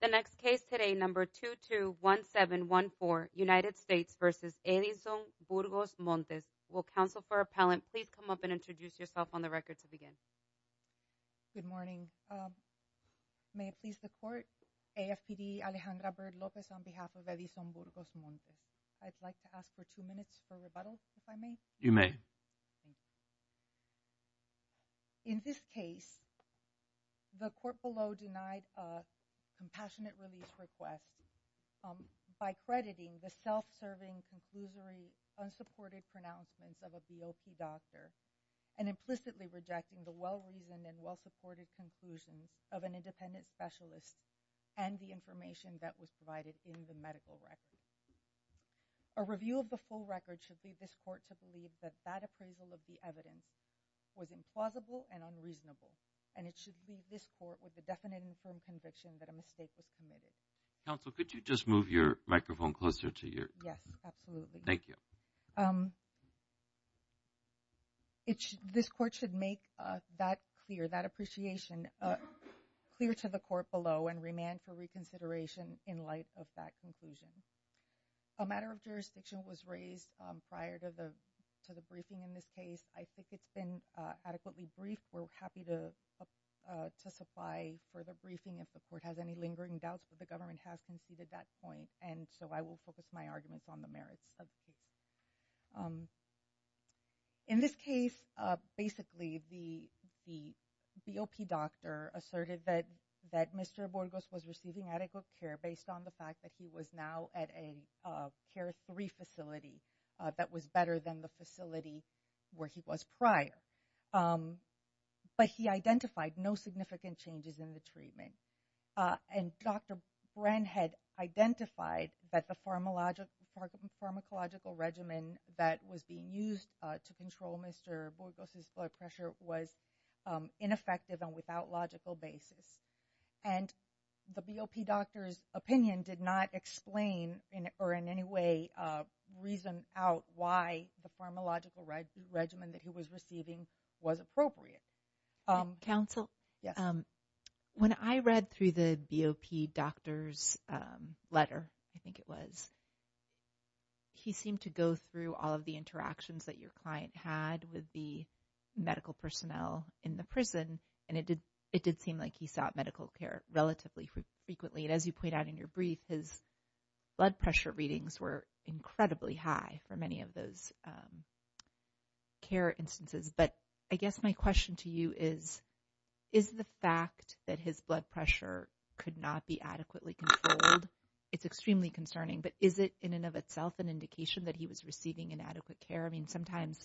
The next case today, number 221714, United States v. Edizon-Burgos-Montes. Will counsel for appellant please come up and introduce yourself on the record to begin? Good morning, may it please the court, AFPD Alejandra Bird Lopez on behalf of Edizon-Burgos-Montes. I'd like to ask for two minutes for rebuttal, if I may? You may. Thank you. In this case, the court below denied a compassionate release request by crediting the self-serving, conclusory, unsupported pronouncements of a BOP doctor and implicitly rejecting the well-reasoned and well-supported conclusions of an independent specialist and the information that was provided in the medical record. A review of the full record should lead this court to believe that that appraisal of the evidence was implausible and unreasonable and it should leave this court with a definite and firm conviction that a mistake was committed. Counsel, could you just move your microphone closer to your... Yes, absolutely. Thank you. This court should make that clear, that appreciation clear to the court below and remand for reconsideration in light of that conclusion. A matter of jurisdiction was raised prior to the briefing in this case. I think it's been adequately briefed. We're happy to supply further briefing if the court has any lingering doubts, but the government has conceded that point, and so I will focus my arguments on the merits. In this case, basically, the BOP doctor asserted that Mr. Borges was receiving adequate care based on the fact that he was now at a Care 3 facility that was better than the facility where he was prior, but he identified no significant changes in the treatment. And Dr. Bren had identified that the pharmacological regimen that was being used to control Mr. Borges' blood pressure was ineffective and without logical basis. And the BOP doctor's opinion did not explain or in any way reason out why the pharmacological regimen that he was receiving was appropriate. Counsel? When I read through the BOP doctor's letter, I think it was, he seemed to go through all of the interactions that your client had with the medical personnel in the prison, and it did seem like he sought medical care relatively frequently. And as you point out in your brief, his blood pressure readings were incredibly high for many of those care instances. But I guess my question to you is, is the fact that his blood pressure could not be adequately controlled, it's extremely concerning, but is it in and of itself an indication that he was receiving inadequate care? I mean, sometimes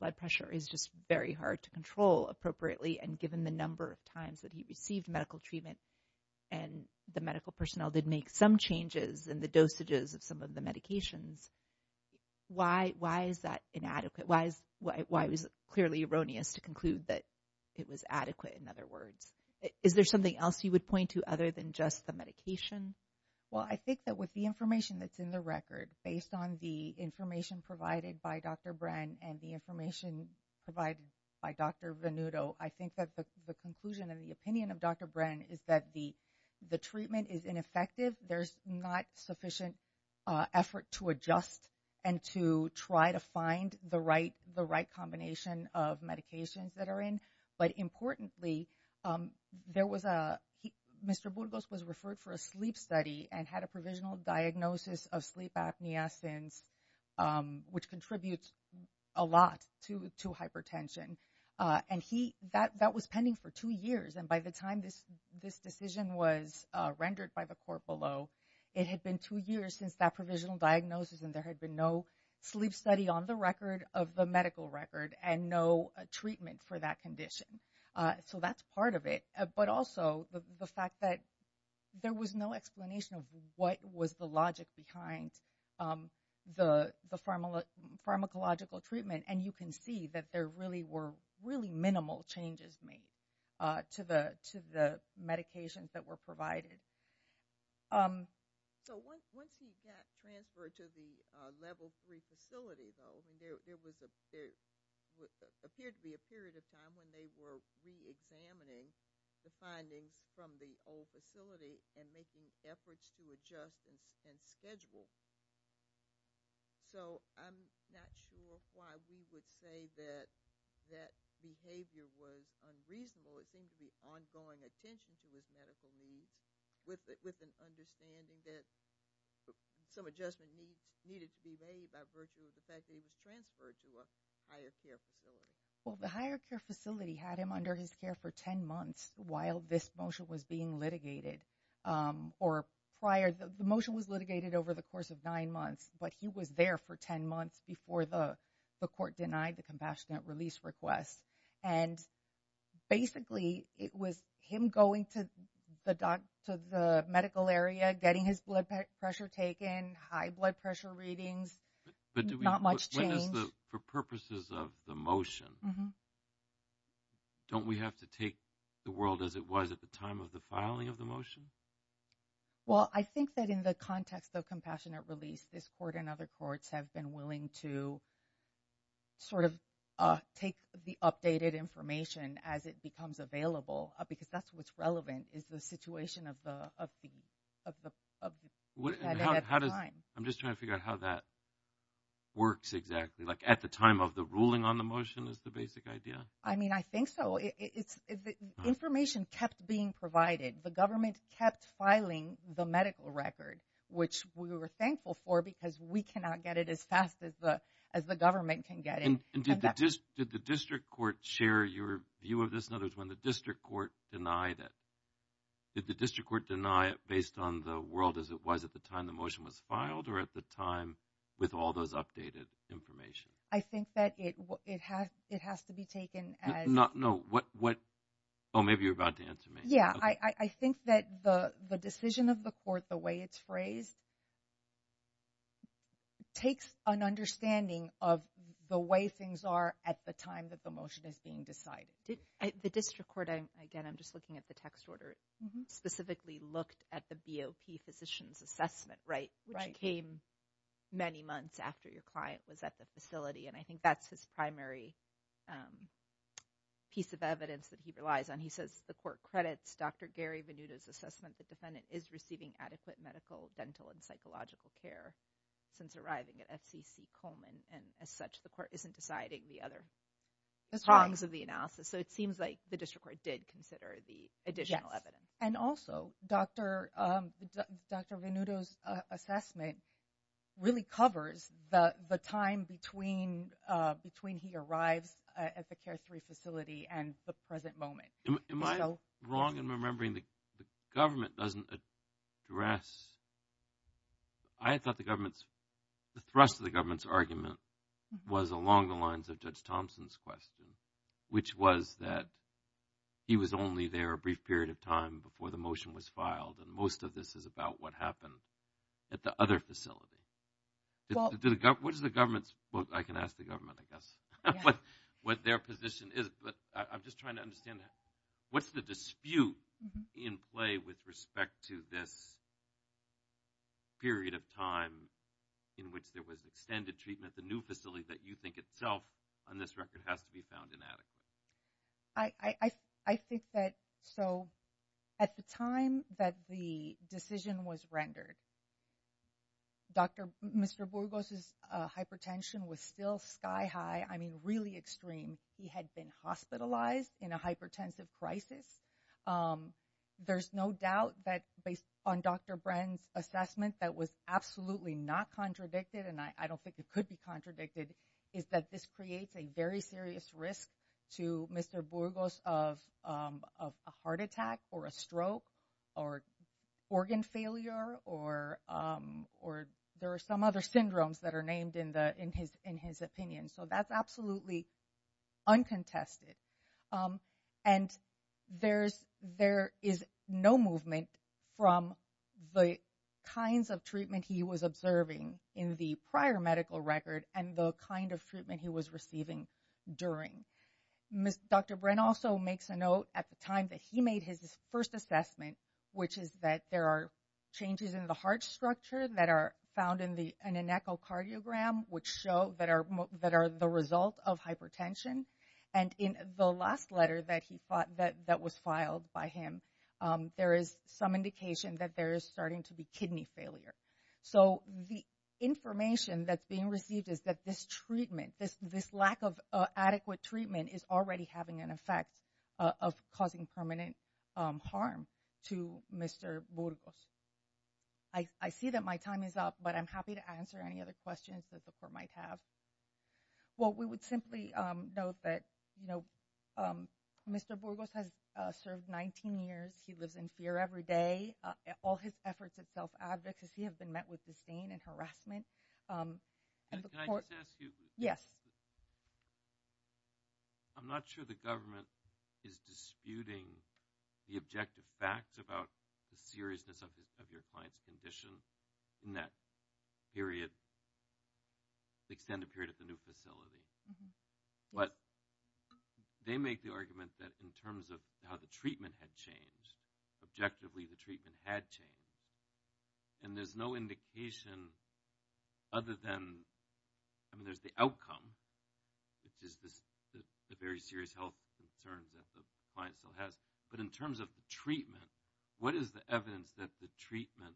blood pressure is just very hard to control appropriately, and given the number of times that he received medical treatment and the medical personnel did make some changes in the dosages of some of the medications, why is that inadequate? Why was it clearly erroneous to conclude that it was adequate, in other words? Is there something else you would point to other than just the medication? Well, I think that with the information that's in the record, based on the information provided by Dr. Brenn and the information provided by Dr. Venuto, I think that the conclusion and the opinion of Dr. Brenn is that the treatment is ineffective. There's not sufficient effort to adjust and to try to find the right combination of medications that are in. But importantly, Mr. Burgos was referred for a sleep study and had a provisional diagnosis of sleep apneasins, which contributes a lot to hypertension. And that was pending for two years, and by the time this decision was rendered by the court below, it had been two years since that provisional diagnosis, and there had been no sleep study on the record of the medical record and no treatment for that condition. So that's part of it. But also the fact that there was no explanation of what was the logic behind the pharmacological treatment, and you can see that there really were really minimal changes made to the medications that were provided. So once he got transferred to the Level 3 facility, though, there appeared to be a period of time when they were reexamining the findings from the old facility and making efforts to adjust and schedule. So I'm not sure why we would say that that behavior was unreasonable. It seemed to be ongoing attention to his medical needs with an understanding that some adjustment needed to be made by virtue of the fact that he was transferred to a higher care facility. Well, the higher care facility had him under his care for 10 months while this motion was being litigated, or prior, the motion was litigated over the course of nine months, but he was there for 10 months before the court denied the compassionate release request. And basically it was him going to the medical area, getting his blood pressure taken, high blood pressure readings, not much change. So for purposes of the motion, don't we have to take the world as it was at the time of the filing of the motion? Well, I think that in the context of compassionate release, this court and other courts have been willing to sort of take the updated information as it becomes available, because that's what's relevant is the situation of the time. I'm just trying to figure out how that works exactly. Like at the time of the ruling on the motion is the basic idea? I mean, I think so. Information kept being provided. The government kept filing the medical record, which we were thankful for because we cannot get it as fast as the government can get it. And did the district court share your view of this? In other words, when the district court denied it, did the district court deny it based on the world as it was at the time the motion was filed or at the time with all those updated information? I think that it has to be taken as— No, what—oh, maybe you're about to answer me. Yeah, I think that the decision of the court, the way it's phrased, takes an understanding of the way things are at the time that the motion is being decided. The district court, again, I'm just looking at the text order, specifically looked at the BOP physician's assessment, right, which came many months after your client was at the facility. And I think that's his primary piece of evidence that he relies on. He says the court credits Dr. Gary Venuta's assessment that the defendant is receiving adequate medical, dental, and psychological care since arriving at FCC Coleman. And as such, the court isn't deciding the other prongs of the analysis. So it seems like the district court did consider the additional evidence. And also, Dr. Venuta's assessment really covers the time between he arrives at the CARE-3 facility and the present moment. Am I wrong in remembering the government doesn't address— I thought the government's—the thrust of the government's argument was along the lines of Judge Thompson's question, which was that he was only there a brief period of time before the motion was filed, and most of this is about what happened at the other facility. What does the government's—well, I can ask the government, I guess, what their position is, but I'm just trying to understand, what's the dispute in play with respect to this period of time in which there was extended treatment at the new facility that you think itself, on this record, has to be found inadequate? I think that—so at the time that the decision was rendered, Mr. Burgos' hypertension was still sky high, I mean really extreme. He had been hospitalized in a hypertensive crisis. There's no doubt that based on Dr. Brenn's assessment that was absolutely not contradicted, and I don't think it could be contradicted, is that this creates a very serious risk to Mr. Burgos of a heart attack or a stroke or organ failure or there are some other syndromes that are named in his opinion. So that's absolutely uncontested. And there is no movement from the kinds of treatment he was observing in the prior medical record and the kind of treatment he was receiving during. Dr. Brenn also makes a note at the time that he made his first assessment, which is that there are changes in the heart structure that are found in an echocardiogram which show that are the result of hypertension. And in the last letter that was filed by him, there is some indication that there is starting to be kidney failure. So the information that's being received is that this treatment, this lack of adequate treatment is already having an effect of causing permanent harm to Mr. Burgos. I see that my time is up, but I'm happy to answer any other questions that the court might have. Well, we would simply note that Mr. Burgos has served 19 years. He lives in fear every day. All his efforts at self-advocacy have been met with disdain and harassment. Can I just ask you? Yes. I'm not sure the government is disputing the objective facts about the seriousness of your client's condition in that extended period at the new facility. But they make the argument that in terms of how the treatment had changed, objectively the treatment had changed, and there's no indication other than, I mean, there's the outcome, which is the very serious health concerns that the client still has. But in terms of the treatment, what is the evidence that the treatment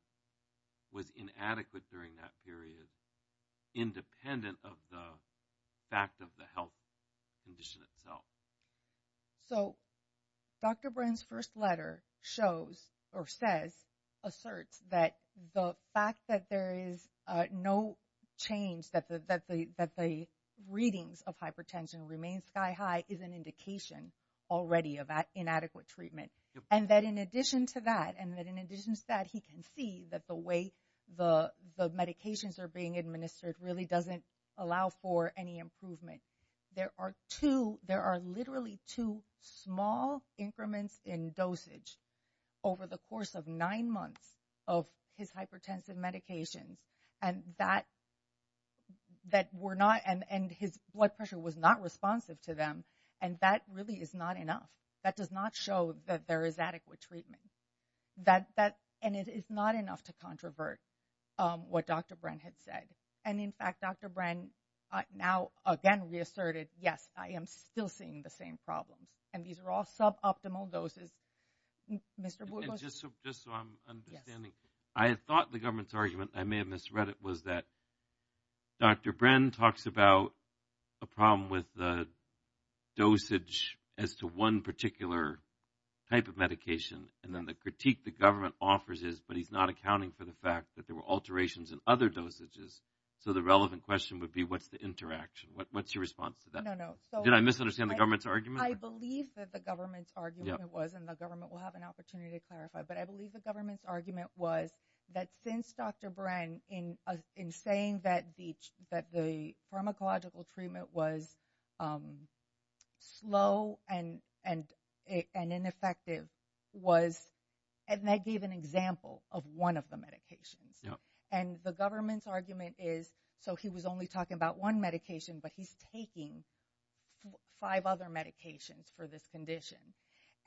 was inadequate during that period, independent of the fact of the health condition itself? So Dr. Bren's first letter shows or says, asserts that the fact that there is no change, that the readings of hypertension remain sky high is an indication already of inadequate treatment. And that in addition to that, and that in addition to that, he can see that the way the medications are being administered really doesn't allow for any improvement. There are two, there are literally two small increments in dosage over the course of nine months of his hypertensive medications, and that were not, and his blood pressure was not responsive to them. And that really is not enough. That does not show that there is adequate treatment. And it is not enough to controvert what Dr. Bren had said. And in fact, Dr. Bren now again reasserted, yes, I am still seeing the same problems. And these are all sub-optimal doses. Mr. Borgost? Just so I'm understanding, I thought the government's argument, I may have misread it, was that Dr. Bren talks about a problem with the dosage as to one particular type of medication, and then the critique the government offers is, but he's not accounting for the fact that there were alterations in other dosages. So the relevant question would be what's the interaction? What's your response to that? No, no. Did I misunderstand the government's argument? I believe that the government's argument was, and the government will have an opportunity to clarify, but I believe the government's argument was that since Dr. Bren, in saying that the pharmacological treatment was slow and ineffective was, and that gave an example of one of the medications. And the government's argument is, so he was only talking about one medication, but he's taking five other medications for this condition.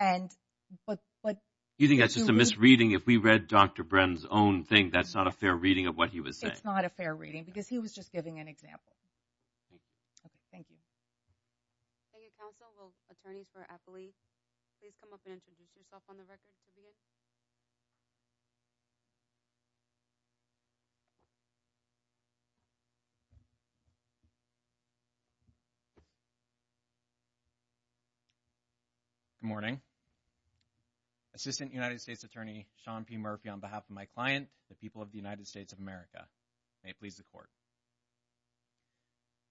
You think that's just a misreading? If we read Dr. Bren's own thing, that's not a fair reading of what he was saying. It's not a fair reading because he was just giving an example. Okay. Thank you. Thank you, counsel. Will attorneys for Appoli please come up and introduce yourself on the record? Good morning. Assistant United States Attorney, Sean P. Murphy, on behalf of my client, the people of the United States of America. May it please the court.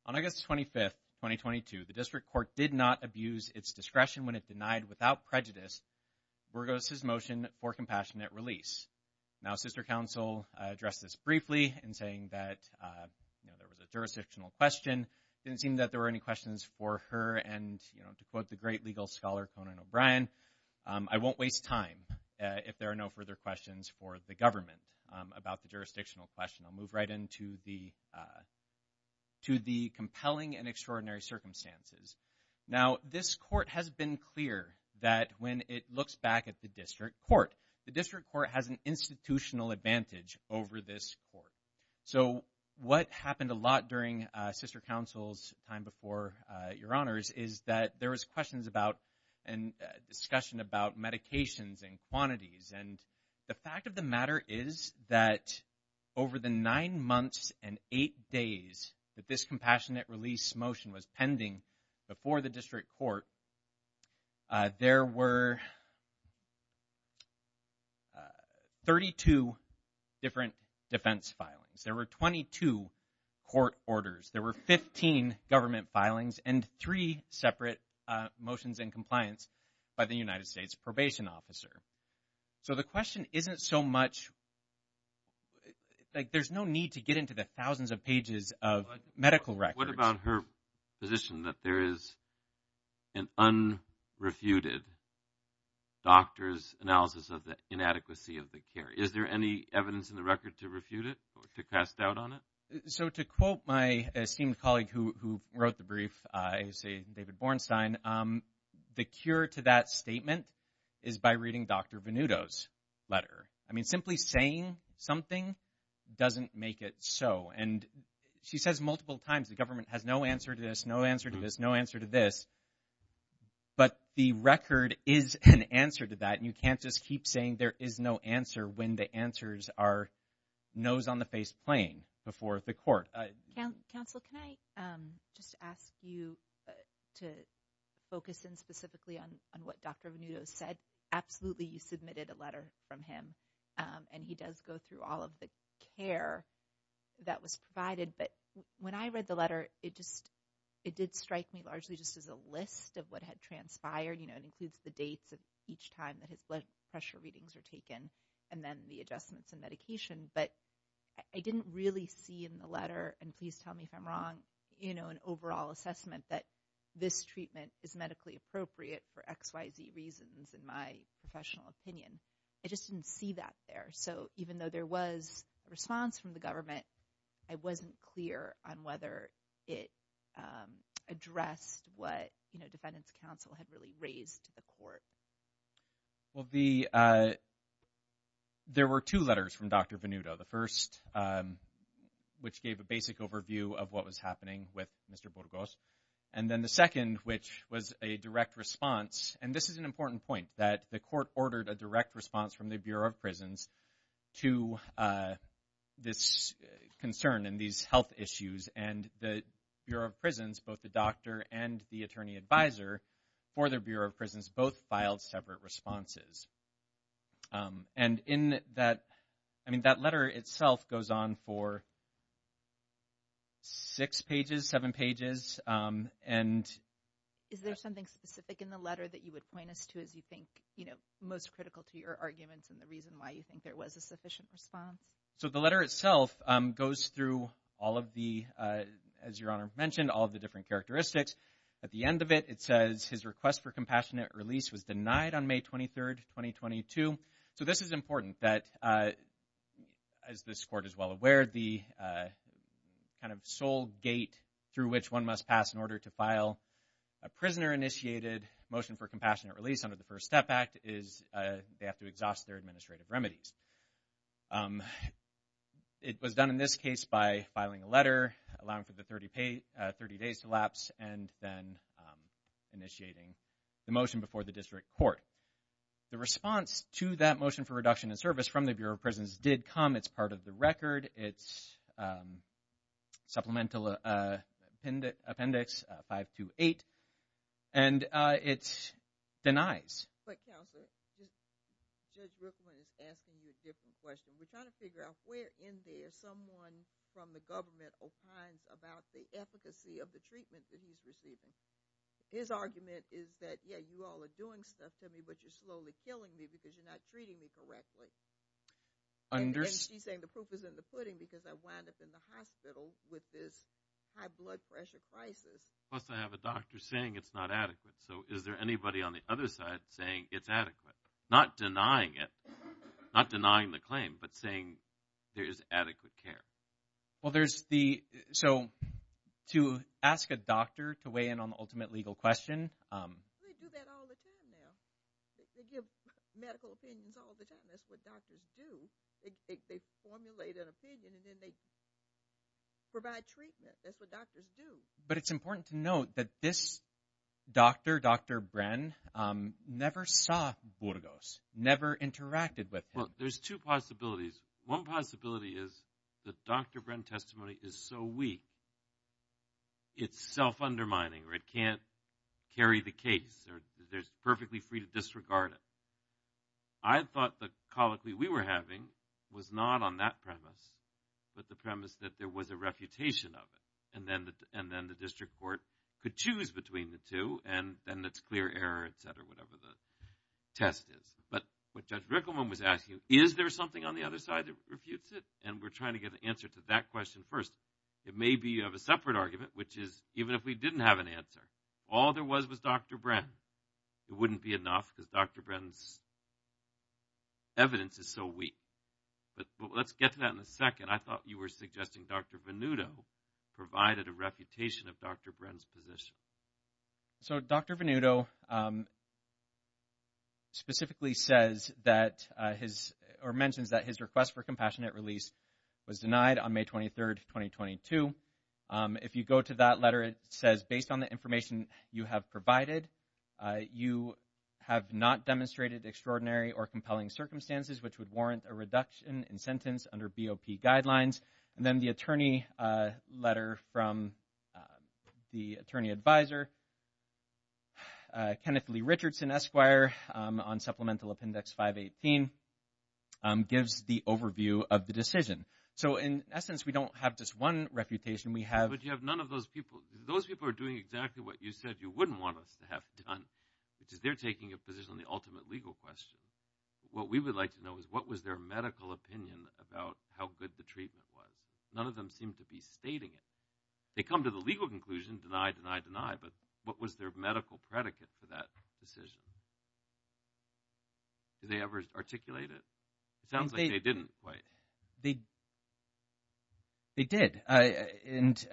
On August 25th, 2022, the district court did not abuse its discretion when it denied, without prejudice, Burgos' motion for compassionate release. Now, sister counsel addressed this briefly in saying that, you know, there was a jurisdictional question. It didn't seem that there were any questions for her. And, you know, to quote the great legal scholar, Conan O'Brien, I won't waste time if there are no further questions for the government about the jurisdictional question. I'll move right into the compelling and extraordinary circumstances. Now, this court has been clear that when it looks back at the district court, the district court has an institutional advantage over this court. So what happened a lot during sister counsel's time before your honors is that there was questions about and discussion about medications and quantities. And the fact of the matter is that over the nine months and eight days that this compassionate release motion was pending before the district court, there were 32 different defense filings. There were 22 court orders. There were 15 government filings and three separate motions in compliance by the United States probation officer. So the question isn't so much, like there's no need to get into the thousands of pages of medical records. What about her position that there is an unrefuted doctor's analysis of the inadequacy of the care? Is there any evidence in the record to refute it or to cast doubt on it? So to quote my esteemed colleague who wrote the brief, David Bornstein, the cure to that statement is by reading Dr. Venuto's letter. I mean, simply saying something doesn't make it so. And she says multiple times the government has no answer to this, no answer to this, no answer to this. But the record is an answer to that. And you can't just keep saying there is no answer when the answers are nose on the face playing before the court. Counsel, can I just ask you to focus in specifically on what Dr. Venuto said? Absolutely, you submitted a letter from him. And he does go through all of the care that was provided. But when I read the letter, it did strike me largely just as a list of what had transpired. It includes the dates of each time that his blood pressure readings were taken and then the adjustments and medication. But I didn't really see in the letter, and please tell me if I'm wrong, an overall assessment that this treatment is medically appropriate for XYZ reasons in my professional opinion. I just didn't see that there. So even though there was a response from the government, I wasn't clear on whether it addressed what, you know, defendants counsel had really raised to the court. Well, there were two letters from Dr. Venuto. The first, which gave a basic overview of what was happening with Mr. Burgos. And then the second, which was a direct response. And this is an important point, that the court ordered a direct response from the Bureau of Prisons to this concern and these health issues. And the Bureau of Prisons, both the doctor and the attorney advisor for the Bureau of Prisons, both filed separate responses. And in that, I mean, that letter itself goes on for six pages, seven pages. Is there something specific in the letter that you would point us to as you think, you know, most critical to your arguments and the reason why you think there was a sufficient response? So the letter itself goes through all of the, as Your Honor mentioned, all of the different characteristics. At the end of it, it says his request for compassionate release was denied on May 23rd, 2022. So this is important, that as this court is well aware, the kind of sole gate through which one must pass in order to file a prisoner-initiated motion for compassionate release under the First Step Act is they have to exhaust their administrative remedies. It was done in this case by filing a letter, allowing for the 30 days to lapse, and then initiating the motion before the district court. The response to that motion for reduction in service from the Bureau of Prisons did come. It's part of the record. It's Supplemental Appendix 528, and it denies. But, Counselor, Judge Brooklyn is asking you a different question. We're trying to figure out where in there someone from the government opines about the efficacy of the treatment that he's receiving. His argument is that, yeah, you all are doing stuff to me, but you're slowly killing me because you're not treating me correctly. And she's saying the proof is in the pudding because I wound up in the hospital with this high blood pressure crisis. Plus, I have a doctor saying it's not adequate. So is there anybody on the other side saying it's adequate? Not denying it, not denying the claim, but saying there is adequate care. Well, there's the – so to ask a doctor to weigh in on the ultimate legal question. They do that all the time now. They give medical opinions all the time. That's what doctors do. They formulate an opinion, and then they provide treatment. That's what doctors do. But it's important to note that this doctor, Dr. Bren, never saw Burgos, never interacted with him. Well, there's two possibilities. One possibility is that Dr. Bren testimony is so weak it's self-undermining, or it can't carry the case, or there's perfectly free to disregard it. I thought the colloquy we were having was not on that premise, but the premise that there was a refutation of it, and then the district court could choose between the two, and then it's clear error, et cetera, whatever the test is. But what Judge Rickleman was asking, is there something on the other side that refutes it? And we're trying to get an answer to that question first. It may be of a separate argument, which is even if we didn't have an answer, all there was was Dr. Bren. It wouldn't be enough because Dr. Bren's evidence is so weak. But let's get to that in a second. I thought you were suggesting Dr. Venuto provided a reputation of Dr. Bren's position. So Dr. Venuto specifically says or mentions that his request for compassionate release was denied on May 23rd, 2022. If you go to that letter, it says, based on the information you have provided, you have not demonstrated extraordinary or compelling circumstances which would warrant a reduction in sentence under BOP guidelines. And then the attorney letter from the attorney advisor, Kenneth Lee Richardson, Esquire, on Supplemental Appendix 518, gives the overview of the decision. So in essence, we don't have just one refutation. But you have none of those people. Those people are doing exactly what you said you wouldn't want us to have done, which is they're taking a position on the ultimate legal question. What we would like to know is what was their medical opinion about how good the treatment was. None of them seem to be stating it. They come to the legal conclusion, deny, deny, deny. But what was their medical predicate for that decision? Did they ever articulate it? It sounds like they didn't quite. They did. And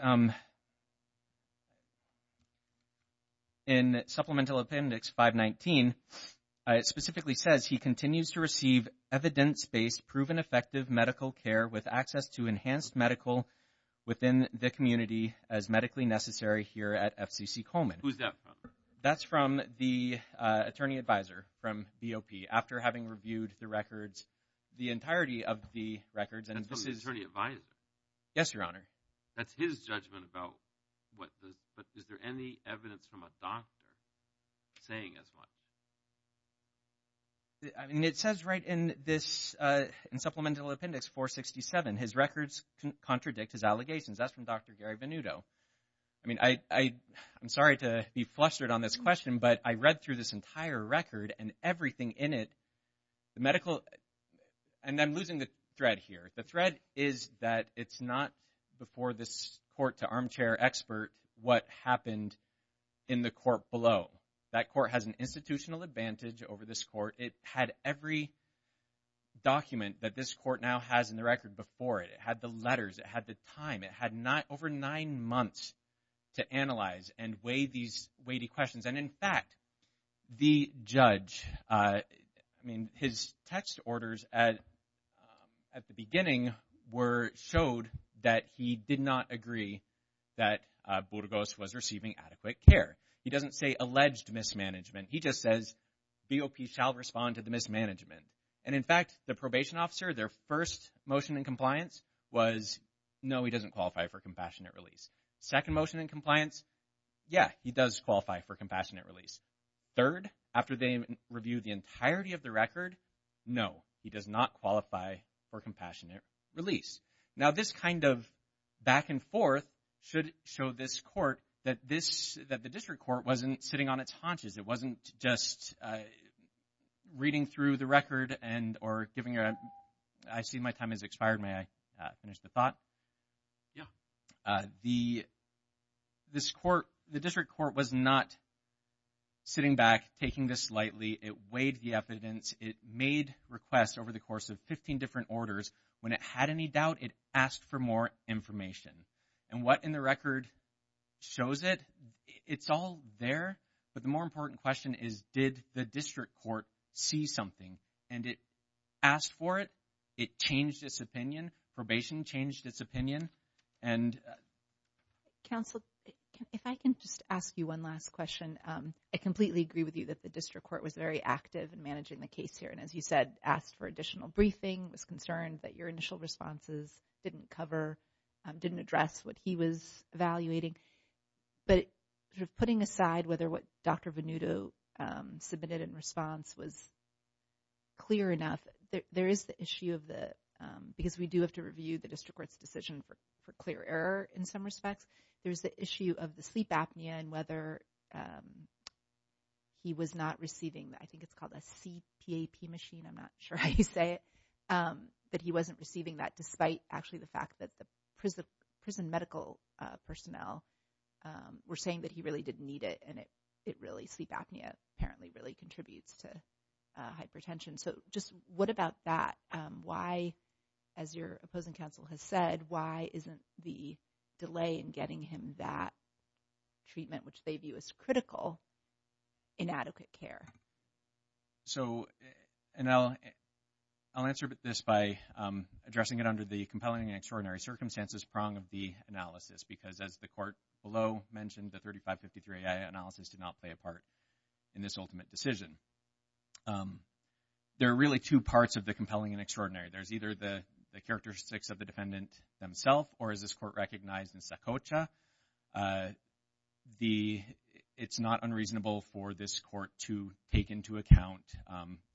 in Supplemental Appendix 519, it specifically says, he continues to receive evidence-based proven effective medical care with access to enhanced medical within the community as medically necessary here at FCC Coleman. Who is that from? That's from the attorney advisor from BOP, after having reviewed the records, the entirety of the records. That's from the attorney advisor? Yes, Your Honor. That's his judgment about what the – but is there any evidence from a doctor saying as much? I mean, it says right in this – in Supplemental Appendix 467, his records contradict his allegations. That's from Dr. Gary Venuto. I mean, I'm sorry to be flustered on this question, but I read through this entire record and everything in it, the medical – and I'm losing the thread here. The thread is that it's not before this court-to-armchair expert what happened in the court below. That court has an institutional advantage over this court. It had every document that this court now has in the record before it. It had the letters. It had the time. It had over nine months to analyze and weigh these weighty questions. And, in fact, the judge – I mean, his text orders at the beginning were – showed that he did not agree that Burgos was receiving adequate care. He doesn't say alleged mismanagement. He just says BOP shall respond to the mismanagement. And, in fact, the probation officer, their first motion in compliance was no, he doesn't qualify for compassionate release. Second motion in compliance, yeah, he does qualify for compassionate release. Third, after they reviewed the entirety of the record, no, he does not qualify for compassionate release. Now, this kind of back and forth should show this court that this – that the district court wasn't sitting on its haunches. It wasn't just reading through the record and – or giving a – I see my time has expired. May I finish the thought? Yeah. The – this court – the district court was not sitting back, taking this lightly. It weighed the evidence. It made requests over the course of 15 different orders. When it had any doubt, it asked for more information. And what in the record shows it? It's all there. But the more important question is did the district court see something? And it asked for it. It changed its opinion. Probation changed its opinion. And – Counsel, if I can just ask you one last question. I completely agree with you that the district court was very active in managing the case here. And as you said, asked for additional briefing, was concerned that your initial responses didn't cover – didn't address what he was evaluating. But putting aside whether what Dr. Venuto submitted in response was clear enough, there is the issue of the – because we do have to review the district court's decision for clear error in some respects. There is the issue of the sleep apnea and whether he was not receiving – I think it's called a CPAP machine. I'm not sure how you say it. But he wasn't receiving that despite actually the fact that the prison medical personnel were saying that he really didn't need it. And it really – sleep apnea apparently really contributes to hypertension. So just what about that? Why, as your opposing counsel has said, why isn't the delay in getting him that treatment, which they view as critical, inadequate care? So – and I'll answer this by addressing it under the compelling and extraordinary circumstances prong of the analysis because, as the court below mentioned, the 3553-AI analysis did not play a part in this ultimate decision. There are really two parts of the compelling and extraordinary. There's either the characteristics of the defendant themselves or, as this court recognized in Sokocha, it's not unreasonable for this court to take into account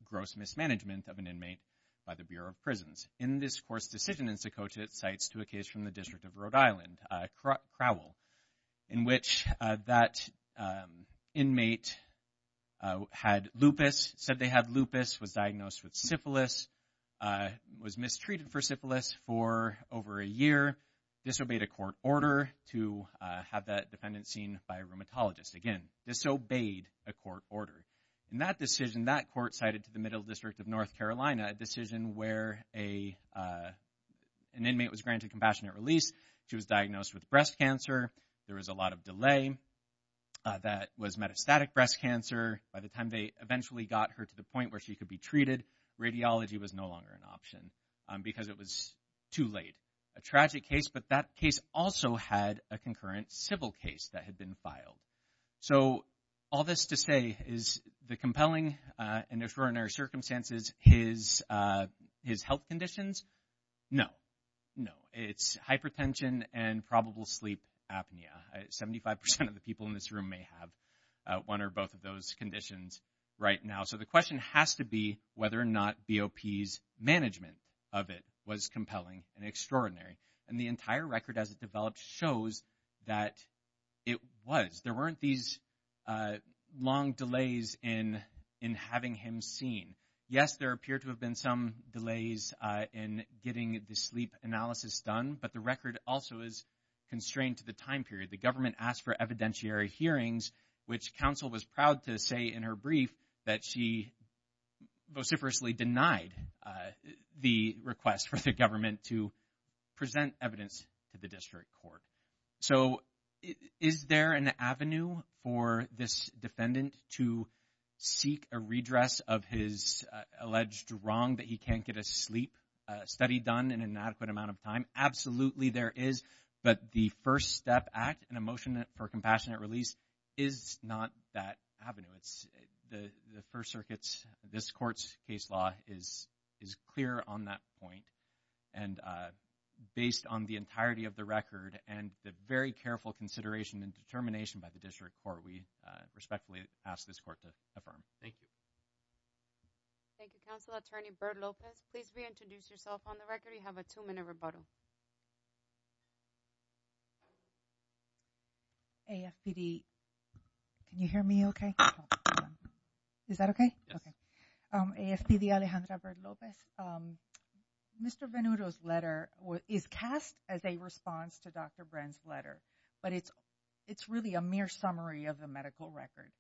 gross mismanagement of an inmate by the Bureau of Prisons. In this court's decision in Sokocha, it cites to a case from the District of Rhode Island, Crowell, in which that inmate had lupus, said they had lupus, was diagnosed with syphilis, was mistreated for syphilis for over a year, disobeyed a court order to have that defendant seen by a rheumatologist. Again, disobeyed a court order. In that decision, that court cited to the Middle District of North Carolina a decision where an inmate was granted compassionate release. She was diagnosed with breast cancer. There was a lot of delay. That was metastatic breast cancer. By the time they eventually got her to the point where she could be treated, radiology was no longer an option because it was too late. A tragic case, but that case also had a concurrent civil case that had been filed. So, all this to say, is the compelling and extraordinary circumstances his health conditions? No, no. It's hypertension and probable sleep apnea. Seventy-five percent of the people in this room may have one or both of those conditions right now. So, the question has to be whether or not BOP's management of it was compelling and extraordinary. And the entire record as it developed shows that it was. There weren't these long delays in having him seen. Yes, there appeared to have been some delays in getting the sleep analysis done, but the record also is constrained to the time period. The government asked for evidentiary hearings, which counsel was proud to say in her brief that she vociferously denied the request for the government to present evidence to the district court. So, is there an avenue for this defendant to seek a redress of his alleged wrong that he can't get a sleep study done in an adequate amount of time? Absolutely there is, but the First Step Act, an emotion for compassionate release, is not that avenue. The First Circuit's, this court's case law is clear on that point, and based on the entirety of the record and the very careful consideration and determination by the district court, we respectfully ask this court to affirm. Thank you. Thank you, Counsel Attorney Bert Lopez. Please reintroduce yourself on the record. You have a two-minute rebuttal. AFPD, can you hear me okay? Is that okay? Yes. AFPD Alejandra Bert Lopez. Mr. Venuto's letter is cast as a response to Dr. Bren's letter, but it's really a mere summary of the medical record.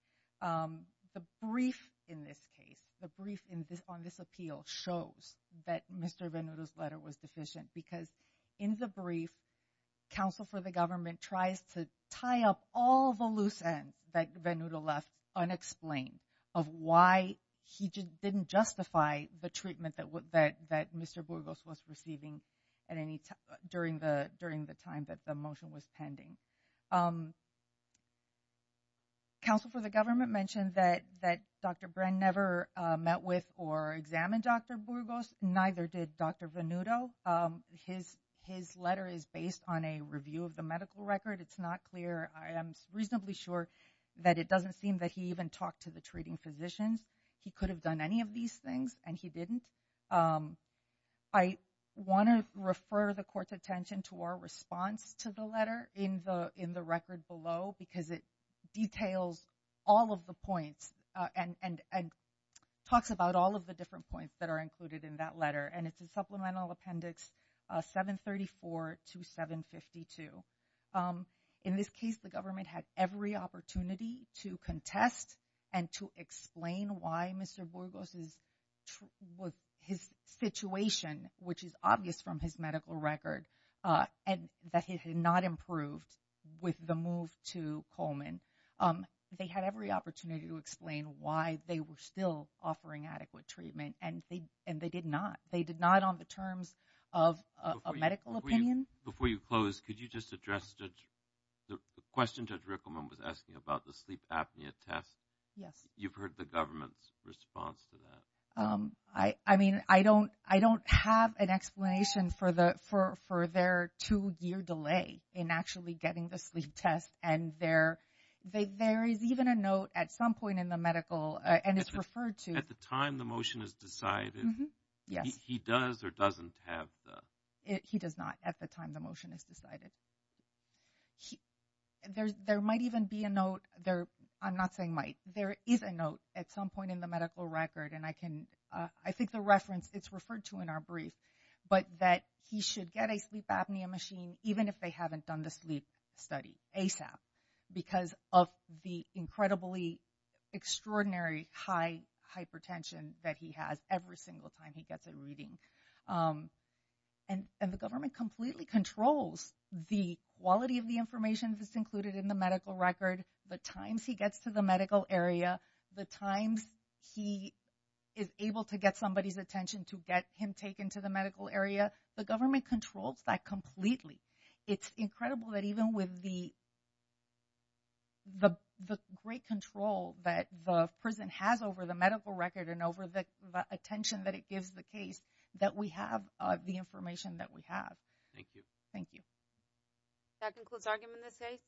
The brief in this case, the brief on this appeal shows that Mr. Venuto's letter was deficient, because in the brief, Counsel for the Government tries to tie up all the loose end that Venuto left unexplained, of why he didn't justify the treatment that Mr. Burgos was receiving during the time that the motion was pending. Counsel for the Government mentioned that Dr. Bren never met with or examined Dr. Burgos. Neither did Dr. Venuto. His letter is based on a review of the medical record. It's not clear. I am reasonably sure that it doesn't seem that he even talked to the treating physicians. He could have done any of these things, and he didn't. I want to refer the Court's attention to our response to the letter in the record below, because it details all of the points and talks about all of the different points that are included in that letter, and it's in Supplemental Appendix 734 to 752. In this case, the government had every opportunity to contest and to explain why Mr. Burgos' situation, which is obvious from his medical record, that he had not improved with the move to Coleman. They had every opportunity to explain why they were still offering adequate treatment, and they did not. They did not on the terms of a medical opinion. Before you close, could you just address the question Judge Rickleman was asking about the sleep apnea test? Yes. You've heard the government's response to that. I mean, I don't have an explanation for their two-year delay in actually getting the sleep test, and there is even a note at some point in the medical, and it's referred to- At the time the motion is decided, he does or doesn't have the- He does not at the time the motion is decided. There might even be a note there. I'm not saying might. There is a note at some point in the medical record, and I can- I think the reference, it's referred to in our brief, but that he should get a sleep apnea machine even if they haven't done the sleep study ASAP because of the incredibly extraordinary high hypertension that he has every single time he gets a reading. And the government completely controls the quality of the information that's included in the medical record, the times he gets to the medical area, the times he is able to get somebody's attention to get him taken to the medical area. The government controls that completely. It's incredible that even with the great control that the prison has over the medical record and over the attention that it gives the case that we have the information that we have. Thank you. Thank you. That concludes argument in this case.